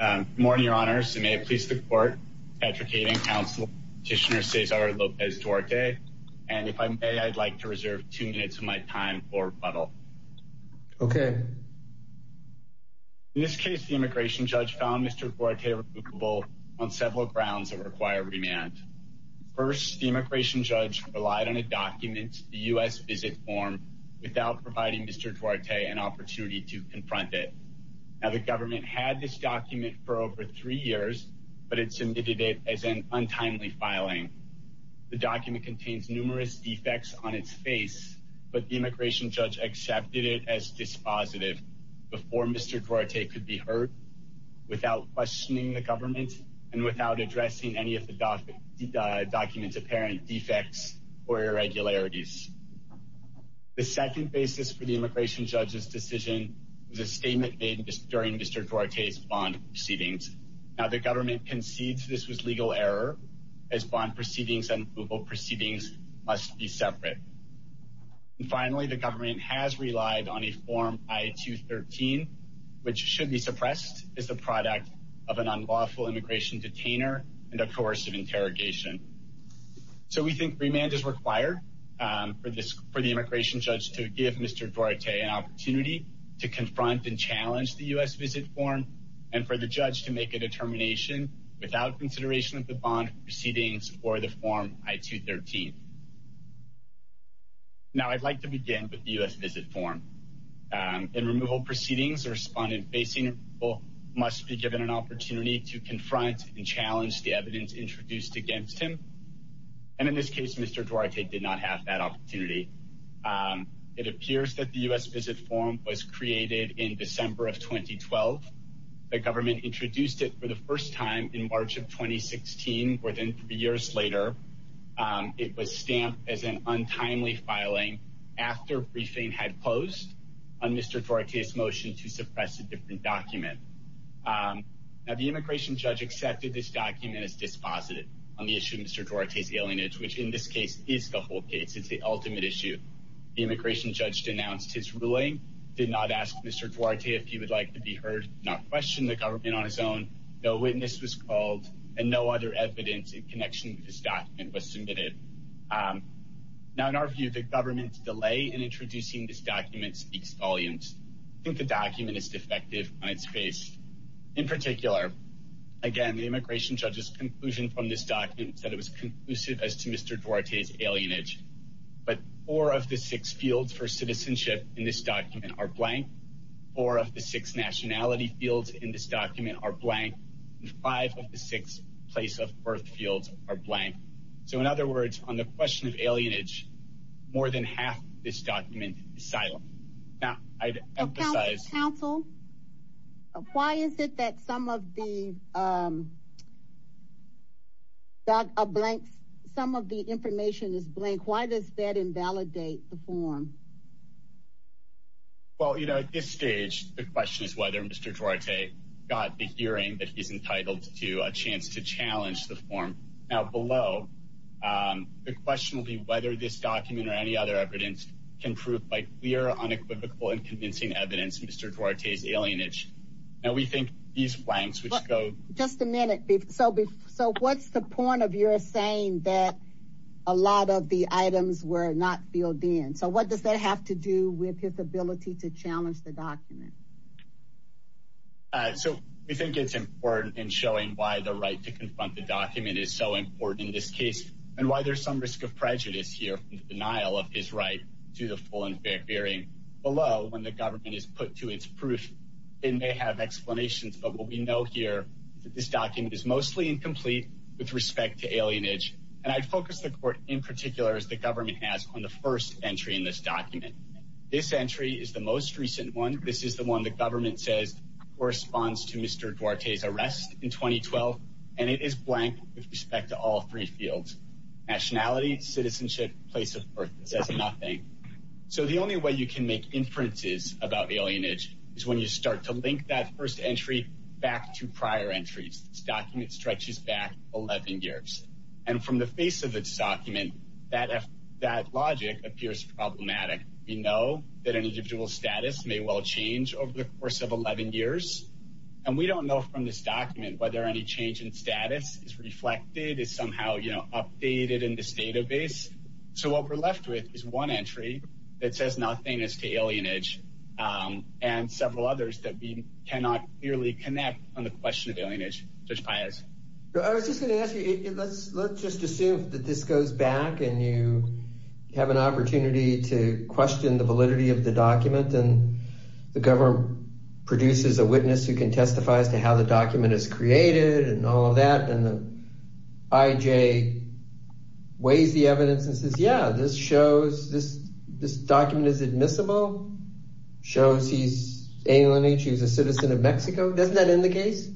Good morning, Your Honors, and may it please the Court, Patrick Hayden Counselor Petitioner Cesar Lopez Duarte, and if I may, I'd like to reserve two minutes of my time for rebuttal. Okay. In this case, the immigration judge found Mr. Duarte recoupable on several grounds that require remand. First, the immigration judge relied on a document, the U.S. Visit Form, without providing Mr. Duarte an opportunity to confront it. Now, the government had this document for over three years, but it submitted it as an untimely filing. The document contains numerous defects on its face, but the immigration judge accepted it as dispositive before Mr. Duarte could be heard without questioning the government and without addressing any of the document's apparent defects or irregularities. The second basis for the immigration judge's decision was a statement made during Mr. Duarte's bond proceedings. Now, the government concedes this was legal error, as bond proceedings and legal proceedings must be separate. Finally, the government has relied on a Form I-213, which should be suppressed as the product of an unlawful immigration detainer and a coercive interrogation. So, we think remand is required for the immigration judge to give Mr. Duarte an opportunity to confront and challenge the U.S. Visit Form and for the judge to make a determination without consideration of the bond proceedings or the Form I-213. Now, I'd like to begin with the U.S. Visit Form. In removal proceedings, a respondent facing removal must be given an opportunity to confront and challenge the evidence introduced against him, and in this case, Mr. Duarte did not have that opportunity. It appears that the U.S. Visit Form was created in December of 2012. The government introduced it for the first time in March of 2016, more than three years later. It was stamped as an untimely filing after briefing had closed on Mr. Duarte's motion to suppress a different document. Now, the immigration judge accepted this document as dispositive on the issue of Mr. Duarte's alienage, which in this case is the whole case. It's the ultimate issue. The immigration judge denounced his ruling, did not ask Mr. Duarte if he would like to be heard, did not question the government on his own, no witness was called, and no other evidence in connection with this document was submitted. Now, in our view, the government's delay in introducing this document speaks volumes. I think the document is defective on its face. In particular, again, the immigration judge's conclusion from this document said it was conclusive as to Mr. Duarte's alienage, but four of the six fields for citizenship in this document are blank, four of the six nationality fields in this document are blank, and five of the six place of birth fields are blank. So, in other words, on the question of alienage, more than half of this document is silent. Now, I'd emphasize- Counsel, why is it that some of the information is blank? Why does that invalidate the form? Well, at this stage, the question is whether Mr. Duarte got the hearing that he's entitled to a chance to challenge the form. Now, below, the question will be whether this document or any other evidence can prove by unequivocal and convincing evidence Mr. Duarte's alienage. Now, we think these blanks, which go- Just a minute. So, what's the point of your saying that a lot of the items were not filled in? So, what does that have to do with his ability to challenge the document? So, we think it's important in showing why the right to confront the document is so important in this case, and why there's some risk of prejudice here from the denial of his right to the full and fair hearing. Below, when the government is put to its proof, it may have explanations. But what we know here is that this document is mostly incomplete with respect to alienage. And I focus the court in particular, as the government has, on the first entry in this document. This entry is the most recent one. This is the one the government says corresponds to Mr. Duarte's arrest in 2012, and it is blank with respect to all three fields. Nationality, citizenship, place of birth. It says nothing. So, the only way you can make inferences about alienage is when you start to link that first entry back to prior entries. This document stretches back 11 years. And from the face of this document, that logic appears problematic. We know that an individual's status may well change over the course of 11 years. And we don't know from this document whether any change in status is reflected, is somehow, you know, updated in this database. So, what we're left with is one entry that says nothing as to alienage, and several others that we cannot clearly connect on the question of alienage. Judge Paius. I was just going to ask you, let's just assume that this goes back and you have an opportunity to question the validity of the document. And the government produces a witness who can testify as to how the document is created and all of that. And the IJ weighs the evidence and says, yeah, this shows, this document is admissible, shows he's aliening, he's a citizen of Mexico. Doesn't that end the case?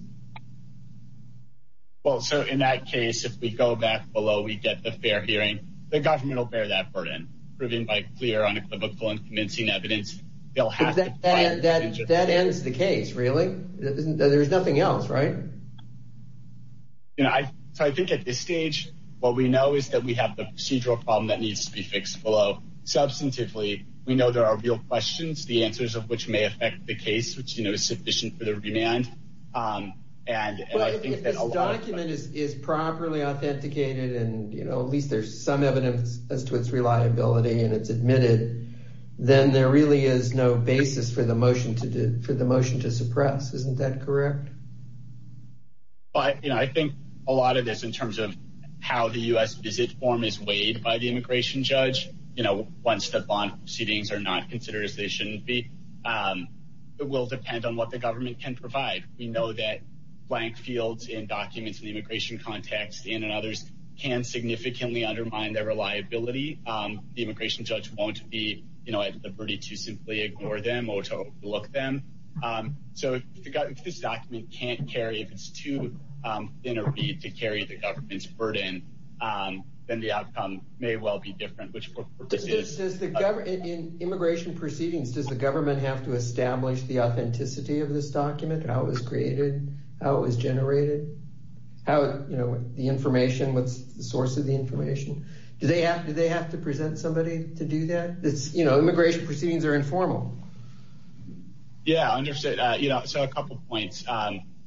Well, so, in that case, if we go back below, we get the fair hearing. The government will bear that burden. Proven by clear, unequivocal, and convincing evidence. They'll have to- But that ends the case, really? There's nothing else, right? So, I think at this stage, what we know is that we have the procedural problem that needs to be fixed below. Substantively, we know there are real questions, the answers of which may affect the case, which is sufficient for the remand. And I think that a lot of- But if this document is properly authenticated, and at least there's some evidence as to its reliability and it's admitted, then there really is no basis for the motion to suppress. Isn't that correct? Well, I think a lot of this, in terms of how the U.S. visit form is weighed by the immigration judge, once the bond proceedings are not considered as they shouldn't be, it will depend on what the government can provide. We know that blank fields in documents in the immigration context, and in others, can significantly undermine their reliability. The immigration judge won't be at liberty to simply ignore them or to overlook them. So, if this document can't carry, if it's too thin a read to carry the government's burden, then the outcome may well be different, which for purposes- Does the government, in immigration proceedings, does the government have to establish the authenticity of this document, how it was created, how it was generated? How, you know, the information, what's the source of the information? Do they have to present somebody to do that? It's, you know, immigration proceedings are informal. Yeah, I understand. You know, so a couple points.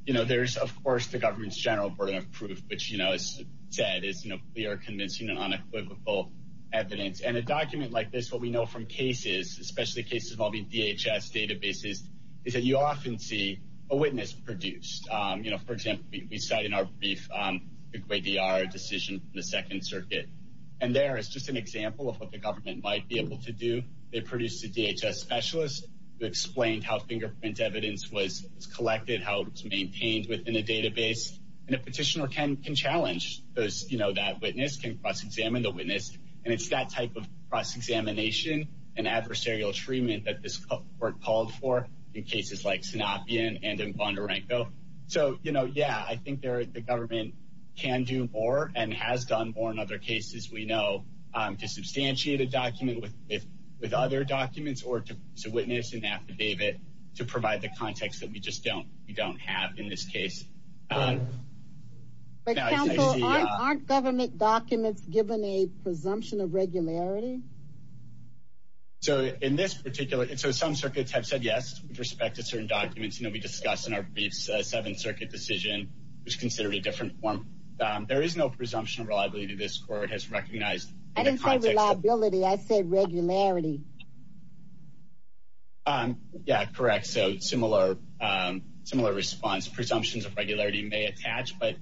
You know, there's, of course, the government's general burden of proof, which, you know, as said, is clear, convincing, and unequivocal evidence. And a document like this, what we know from cases, especially cases involving DHS databases, is that you often see a witness produced. You know, for example, we cite in our brief, the Ecuador decision in the Second Circuit. And there is just an example of what the government might be able to do. They produced a DHS specialist who explained how fingerprint evidence was collected, how it was maintained within a database. And a petitioner can challenge those, you know, that witness, can cross-examine the witness. And it's that type of cross-examination and adversarial treatment that this court called for in cases like Sanapien and in Bondarenko. So, you know, yeah, I think the government can do more and has done more in other cases. We know to substantiate a document with other documents or to witness an affidavit to provide the context that we just don't have in this case. But counsel, aren't government documents given a presumption of regularity? So in this particular, so some circuits have said yes, with respect to certain documents. You know, we discussed in our briefs, the Seventh Circuit decision was considered a different form. There is no presumption of reliability this court has recognized. I didn't say reliability, I said regularity. Yeah, correct. So similar response. Presumptions of regularity may attach. But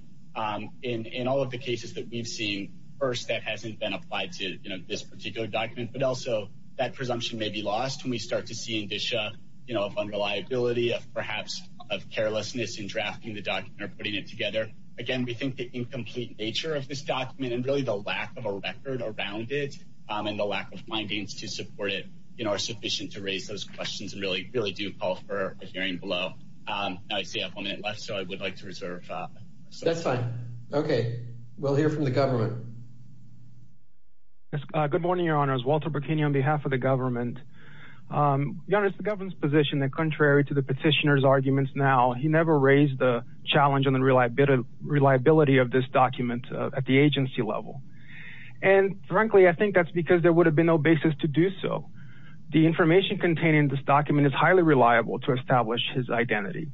in all of the cases that we've seen, first, that hasn't been applied to this particular document, but also that presumption may be lost when we start to see indicia, you know, of unreliability, of perhaps of carelessness in drafting the document or putting it together. Again, we think the incomplete nature of this document and really the lack of a record around it and the lack of findings to support it, you know, are sufficient to raise those questions and really, really do call for a hearing below. I see I have one minute left, so I would like to reserve. That's fine. Okay, we'll hear from the government. Good morning, Your Honors. Walter Burkini on behalf of the government. Now, he never raised the challenge on the reliability of this document at the agency level. And frankly, I think that's because there would have been no basis to do so. The information contained in this document is highly reliable to establish his identity.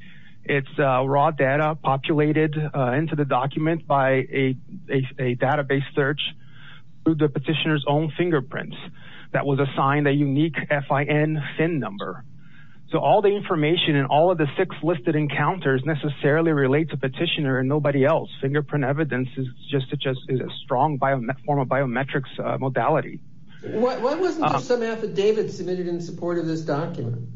It's raw data populated into the document by a database search through the petitioner's own fingerprints that was assigned a unique FIN number. So all the information and all of the six listed encounters necessarily relate to petitioner and nobody else. Fingerprint evidence is just a strong form of biometrics modality. Why wasn't there some affidavit submitted in support of this document?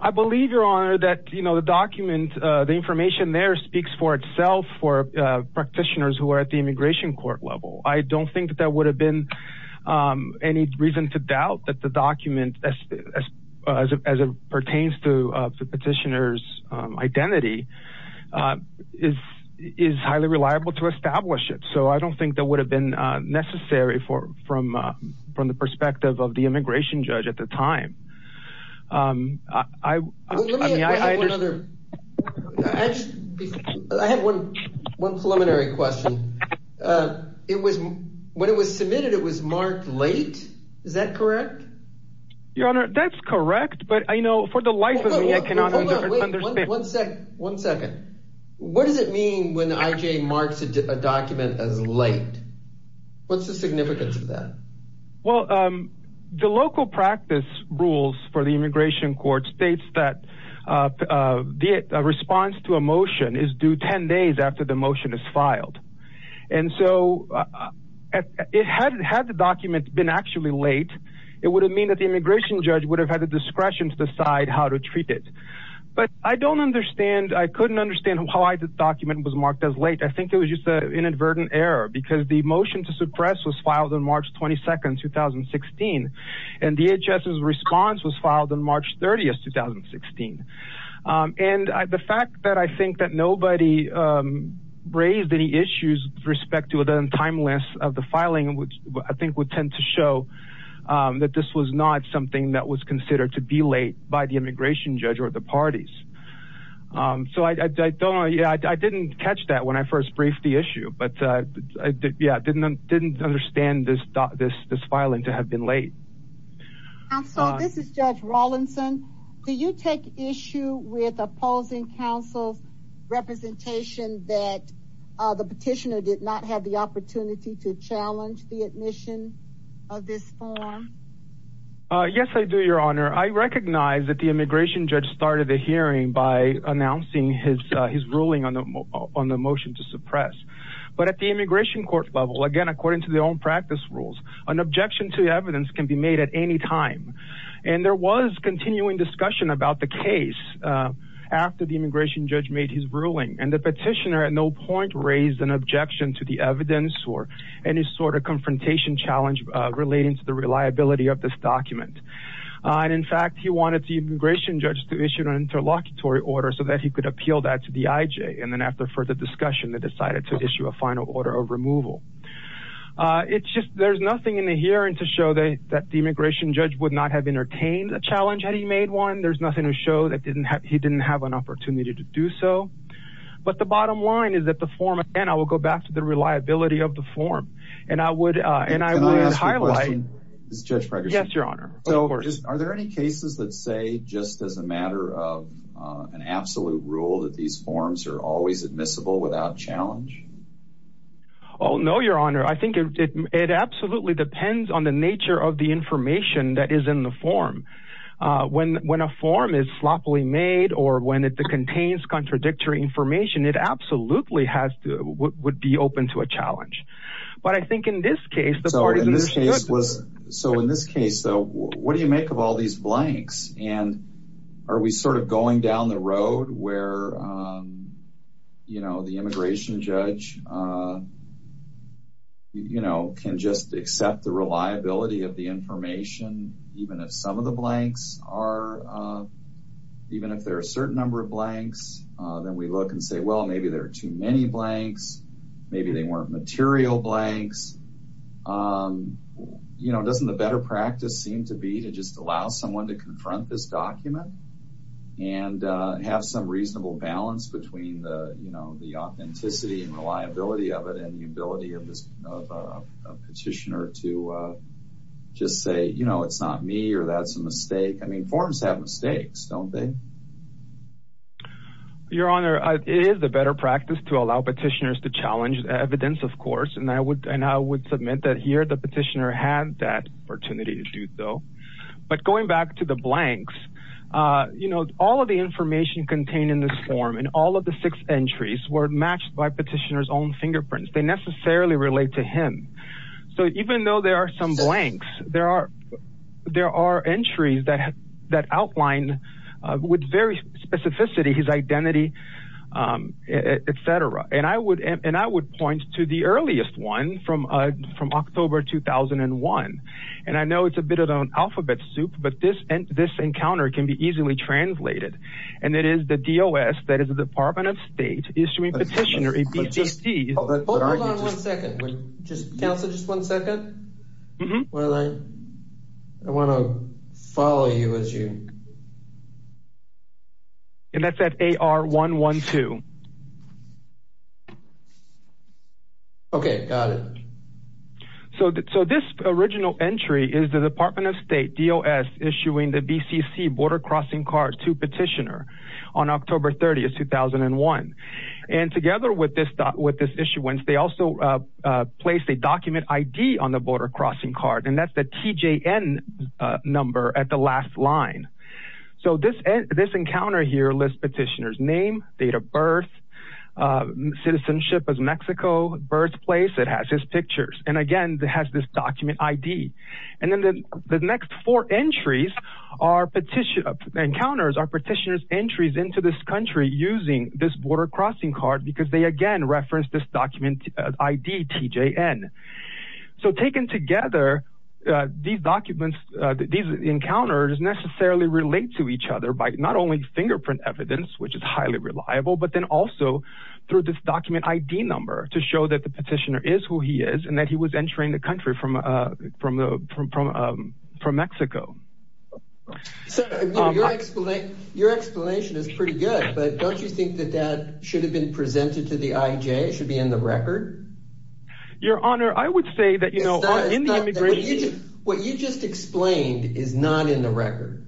I believe, Your Honor, that, you know, the document, the information there speaks for itself for practitioners who are at the immigration court level. I don't think that there would have been any reason to doubt that the document as it pertains to the petitioner's identity is highly reliable to establish it. So I don't think that would have been necessary from the perspective of the immigration judge at the time. I have one preliminary question. Uh, it was when it was submitted, it was marked late. Is that correct? Your Honor, that's correct. But I know for the life of me, I cannot wait one second. One second. What does it mean when IJ marks a document as late? What's the significance of that? Well, the local practice rules for the immigration court states that the response to a motion is due 10 days after the motion is filed. And so, had the document been actually late, it would have meant that the immigration judge would have had the discretion to decide how to treat it. But I don't understand, I couldn't understand why the document was marked as late. I think it was just an inadvertent error because the motion to suppress was filed on March 22, 2016, and DHS's response was filed on March 30, 2016. And the fact that I think that nobody raised any issues with respect to the timeliness of the filing, which I think would tend to show that this was not something that was considered to be late by the immigration judge or the parties. So, I don't know, yeah, I didn't catch that when I first briefed the issue. But yeah, I didn't understand this filing to have been late. Counsel, this is Judge Rawlinson. Do you take issue with opposing counsel's representation that the petitioner did not have the opportunity to challenge the admission of this form? Yes, I do, Your Honor. I recognize that the immigration judge started the hearing by announcing his ruling on the motion to suppress. But at the immigration court level, again, according to their own practice rules, an objection to the evidence can be made at any time. And there was continuing discussion about the case after the immigration judge made his ruling. And the petitioner at no point raised an objection to the evidence or any sort of confrontation challenge relating to the reliability of this document. And in fact, he wanted the immigration judge to issue an interlocutory order so that he could appeal that to the IJ. And then after further discussion, they decided to issue a final order of removal. It's just there's nothing in the hearing to show that the immigration judge would not have entertained a challenge had he made one. There's nothing to show that he didn't have an opportunity to do so. But the bottom line is that the form, again, I will go back to the reliability of the form. And I would highlight... Can I ask you a question, Judge Fregersen? Yes, Your Honor. Are there any cases that say, just as a matter of an absolute rule, that these forms are always admissible without challenge? Oh, no, Your Honor. I think it absolutely depends on the nature of the information that is in the form. When a form is sloppily made or when it contains contradictory information, it absolutely would be open to a challenge. But I think in this case... So in this case, though, what do you make of all these blanks? And are we sort of going down the road where, you know, the immigration judge, you know, can just accept the reliability of the information, even if some of the blanks are... Even if there are a certain number of blanks, then we look and say, well, maybe there are too many blanks. Maybe they weren't material blanks. You know, doesn't a better practice seem to be to just allow someone to confront this document and have some reasonable balance between the, you know, the authenticity and reliability of it and the ability of a petitioner to just say, you know, it's not me or that's a mistake. I mean, forms have mistakes, don't they? Your Honor, it is a better practice to allow petitioners to challenge evidence, of course. And I would submit that here the petitioner had that opportunity to do so. But going back to the blanks, you know, all of the information contained in this form and all of the six entries were matched by petitioner's own fingerprints. They necessarily relate to him. So even though there are some blanks, there are entries that outline with very specificity his identity, et cetera. And I would point to the earliest one from October 2001. And I know it's a bit of an alphabet soup, but this encounter can be easily translated. And it is the DOS, that is the Department of State, issuing petitioner a PCC. Hold on one second. Counselor, just one second. Well, I want to follow you as you. And that's at AR 112. Okay, got it. So this original entry is the Department of State DOS issuing the BCC border crossing card to petitioner on October 30th, 2001. And together with this issuance, they also placed a document ID on the border crossing card. And that's the TJN number at the last line. So this encounter here lists petitioner's name, date of birth, citizenship as Mexico, birthplace, it has his pictures. And again, it has this document ID. And then the next four entries are petitioner's, encounters are petitioner's entries into this country using this border crossing card because they again reference this document ID TJN. So taken together, these documents, these encounters necessarily relate to each other by not only fingerprint evidence, which is highly reliable, but then also through this the petitioner is who he is and that he was entering the country from Mexico. So your explanation is pretty good. But don't you think that that should have been presented to the IJ? It should be in the record? Your Honor, I would say that, you know, what you just explained is not in the record.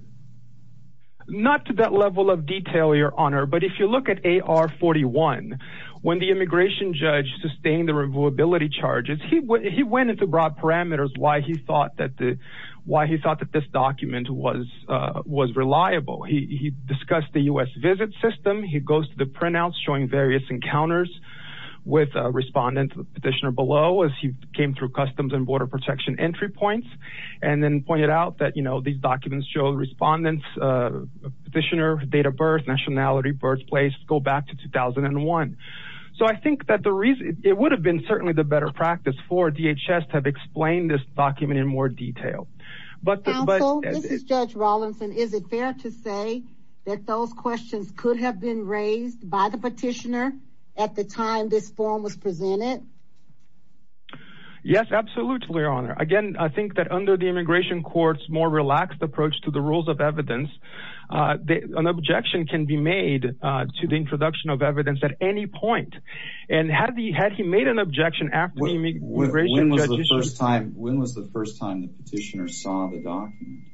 Not to that level of detail, Your Honor. But if you look at AR-41, when the immigration judge sustained the reviewability charges, he went into broad parameters why he thought that this document was reliable. He discussed the U.S. visit system. He goes to the printouts showing various encounters with respondents, petitioner below, as he came through customs and border protection entry points. And then pointed out that, you know, these documents show respondents, petitioner, date of birth, nationality, birthplace, go back to 2001. So I think that the reason it would have been certainly the better practice for DHS to have explained this document in more detail. Counsel, this is Judge Rawlinson. Is it fair to say that those questions could have been raised by the petitioner at the time this form was presented? Yes, absolutely, Your Honor. Again, I think that under the immigration court's more relaxed approach to the rules of evidence, an objection can be made to the introduction of evidence at any point. And had he made an objection after the immigration judge... When was the first time the petitioner saw the document?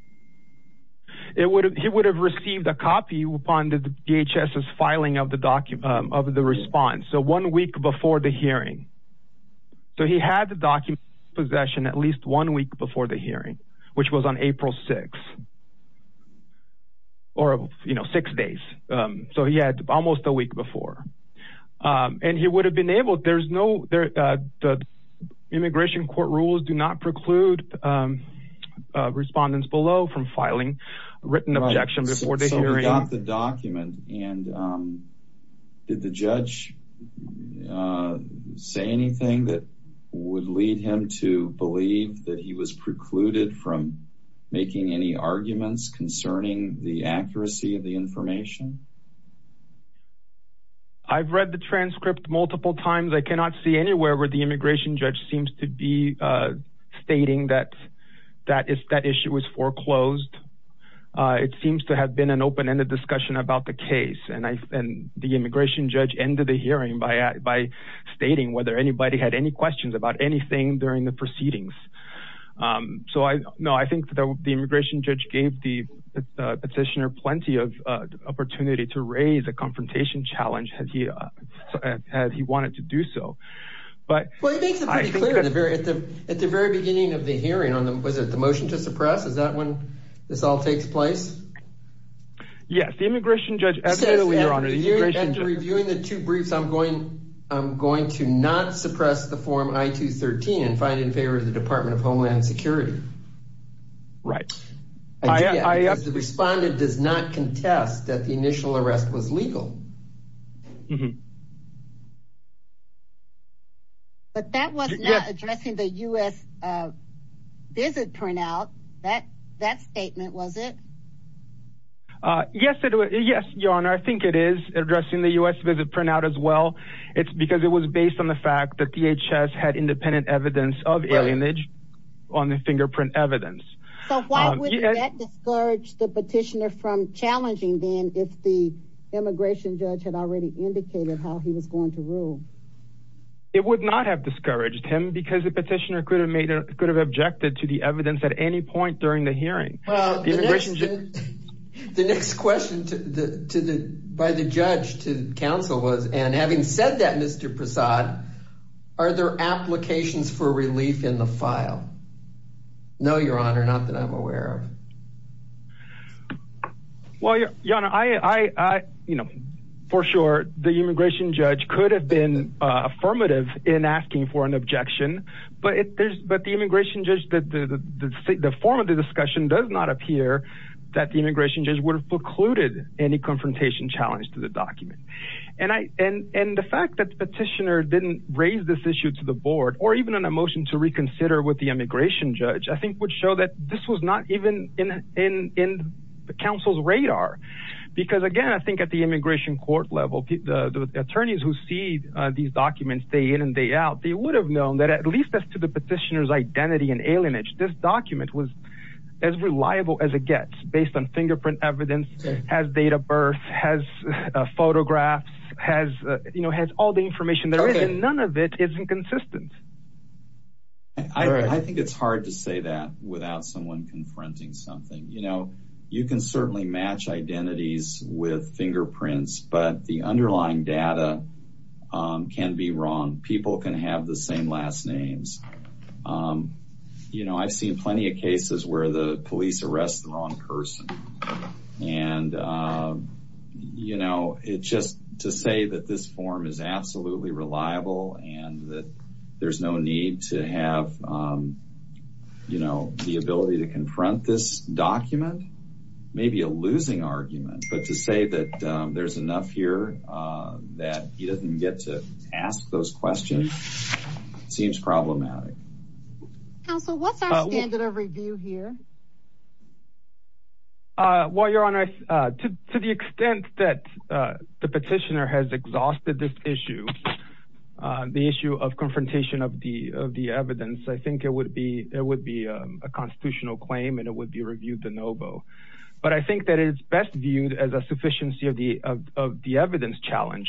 He would have received a copy upon the DHS's filing of the response. So one week before the hearing. So he had the document in possession at least one week before the hearing, which was on April 6th. Or, you know, six days. So he had almost a week before. And he would have been able... There's no... The immigration court rules do not preclude respondents below from filing written objections before the hearing. He got the document. And did the judge say anything that would lead him to believe that he was precluded from making any arguments concerning the accuracy of the information? I've read the transcript multiple times. I cannot see anywhere where the immigration judge seems to be stating that that issue was foreclosed. It seems to have been an open-ended discussion about the case. And the immigration judge ended the hearing by stating whether anybody had any questions about anything during the proceedings. So, no, I think that the immigration judge gave the petitioner plenty of opportunity to raise a confrontation challenge had he wanted to do so. But... Well, he makes it pretty clear at the very beginning of the hearing. Was it the motion to suppress? Is that when this all takes place? Yes. The immigration judge... So, after reviewing the two briefs, I'm going to not suppress the form I-213 and find it in favor of the Department of Homeland Security. Right. The respondent does not contest that the initial arrest was legal. But that was not addressing the U.S. visit turnout. That statement, was it? Yes, Your Honor. I think it is addressing the U.S. visit turnout as well. It's because it was based on the fact that DHS had independent evidence of alienage on the fingerprint evidence. So, why would that discourage the petitioner from challenging then if the immigration judge had already indicated how he was going to rule? It would not have discouraged him because the petitioner could have objected to the evidence at any point during the hearing. The next question by the judge to counsel was, and having said that, Mr. Prasad, are there applications for relief in the file? No, Your Honor, not that I'm aware of. Well, Your Honor, for sure, the immigration judge could have been affirmative in asking for an objection, but the immigration judge, the form of the discussion does not appear that the immigration judge would have precluded any confrontation challenge to the document. And the fact that the petitioner didn't raise this issue to the board, or even on a motion to reconsider with the immigration judge, I think would show that this was not even in the counsel's radar. Because again, I think at the immigration court level, the attorneys who see these documents day in and day out, they would have known that at least as to the petitioner's identity and alienage, this document was as reliable as it gets based on fingerprint evidence, has date of birth, has photographs, has, you know, has all the information there is, and none of it is inconsistent. I think it's hard to say that without someone confronting something. You know, you can certainly match identities with fingerprints, but the underlying data can be wrong. People can have the same last names. You know, I've seen plenty of cases where the police arrest the wrong person. And, you know, it's just to say that this form is absolutely reliable and that there's no need to have, you know, the ability to confront this document, maybe a losing argument, but to say that there's enough here that he doesn't get to ask those questions seems problematic. Counsel, what's our standard of review here? Well, Your Honor, to the extent that the petitioner has exhausted this issue, the issue of confrontation of the evidence, I think it would be a constitutional claim and it would be reviewed de novo. But I think that it's best viewed as a sufficiency of the evidence challenge,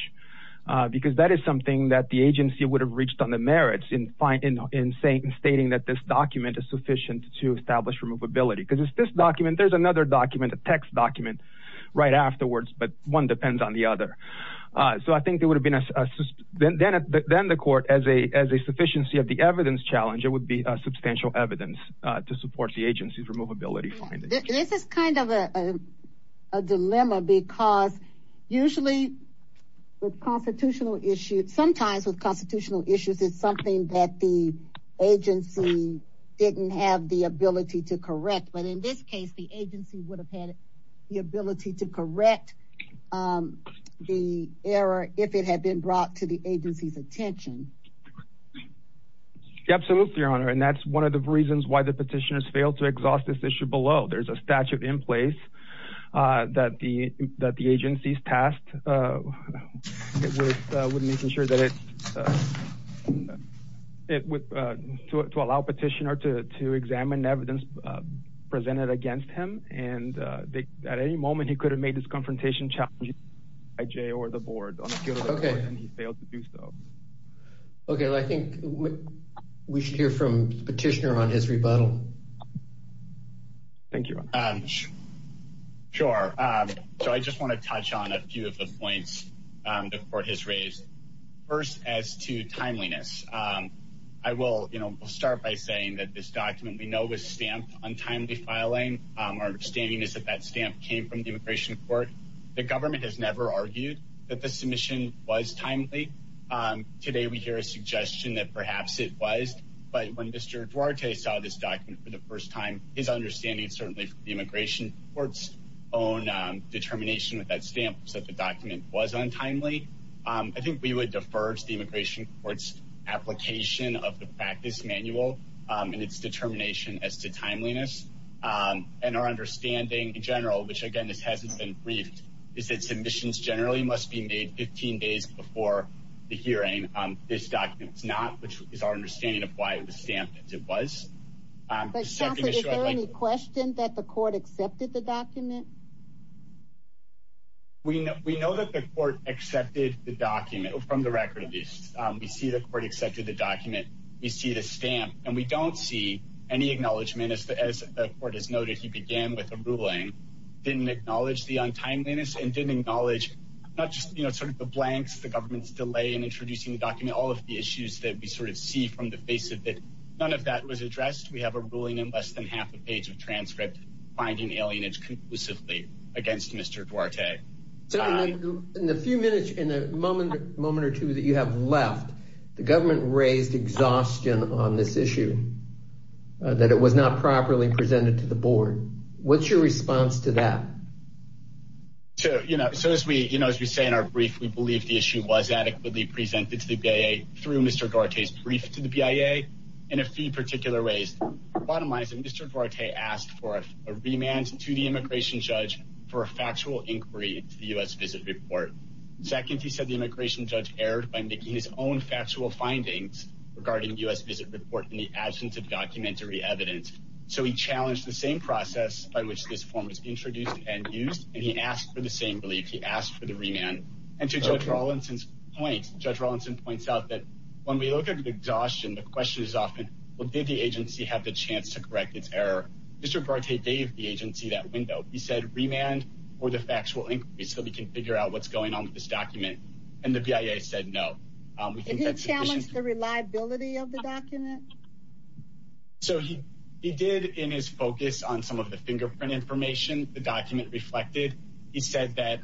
because that is something that the agency would have reached on the merits in stating that this document is sufficient to establish removability. Because it's this document, there's another document, a text document right afterwards, but one depends on the other. So I think it would have been, then the court, as a sufficiency of the evidence challenge, it would be a substantial evidence to support the agency's removability findings. This is kind of a dilemma because usually with constitutional issues, sometimes with constitutional issues, it's something that the agency didn't have the ability to correct. But in this case, the agency would have had the ability to correct the error if it had been brought to the agency's attention. Absolutely, Your Honor. And that's one of the reasons why the petitioners failed to exhaust this issue below. There's a statute in place that the agency's tasked with making sure that it's, to allow petitioner to examine evidence presented against him. And at any moment, he could have made this confrontation challenge by Jay or the board on the field of the court, and he failed to do so. Okay, I think we should hear from the petitioner on his rebuttal. Thank you, Your Honor. Sure, so I just want to touch on a few of the points the court has raised. First, as to timeliness, I will, you know, start by saying that this document we know was stamped on timely filing. Our understanding is that that stamp came from the immigration court. The government has never argued that the submission was timely. Today we hear a suggestion that perhaps it was. But when Mr. Duarte saw this document for the first time, his understanding certainly from the immigration court's own determination with that stamp was that the document was untimely. I think we would defer to the immigration court's application of the practice manual and its determination as to timeliness. And our understanding in general, which again, this hasn't been briefed, is that submissions generally must be made 15 days before the hearing. This document is not, which is our understanding of why it was stamped as it was. But is there any question that the court accepted the document? We know that the court accepted the document from the record of this. We see the court accepted the document. We see the stamp and we don't see any acknowledgement as the court has noted. He began with a ruling, didn't acknowledge the untimeliness and didn't acknowledge not just sort of the blanks, the government's delay in introducing the document, all of the issues that we sort of see from the face of it. None of that was addressed. We have a ruling in less than half a page of transcript finding alienage conclusively against Mr. Duarte. In the few minutes, in the moment or two that you have left, the government raised exhaustion on this issue, that it was not properly presented to the board. What's your response to that? So, you know, so as we, you know, as we say in our brief, we believe the issue was adequately presented to the BIA through Mr. Duarte's brief to the BIA in a few particular ways. Bottom line is that Mr. Duarte asked for a remand to the immigration judge for a factual inquiry into the U.S. visit report. Second, he said the immigration judge erred by making his own factual findings regarding U.S. visit report in the absence of documentary evidence. So he challenged the same process by which this form was introduced and used. And he asked for the same belief. He asked for the remand. And to Judge Rawlinson's point, Judge Rawlinson points out that when we look at exhaustion, the question is often, well, did the agency have the chance to correct its error? Mr. Duarte gave the agency that window. He said remand or the factual inquiry, so we can figure out what's going on with this document. And the BIA said no. Did he challenge the reliability of the document? So he did in his focus on some of the fingerprint information. The document reflected. He said that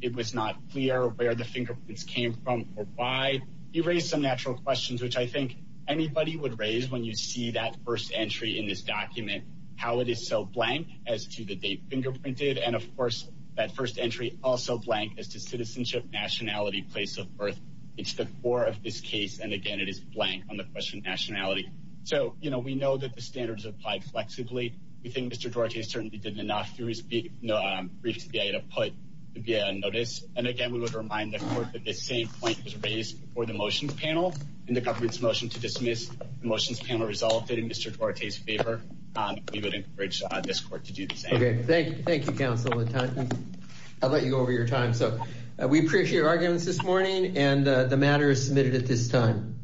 it was not clear where the fingerprints came from or why. He raised some natural questions, which I think anybody would raise when you see that first entry in this document, how it is so blank as to the date fingerprinted. And of course, that first entry also blank as to citizenship, nationality, place of birth. It's the core of this case. And again, it is blank on the question of nationality. So, you know, we know that the standards applied flexibly. We think Mr. Duarte certainly did enough through his brief to the BIA to put the BIA on notice. And again, we would remind the court that this same point was raised before the motions panel in the government's motion to dismiss. The motions panel resulted in Mr. Duarte's favor. We would encourage this court to do the same. Okay, thank you. Thank you, counsel. I'll let you go over your time. So we appreciate your arguments this morning. And the matter is submitted at this time.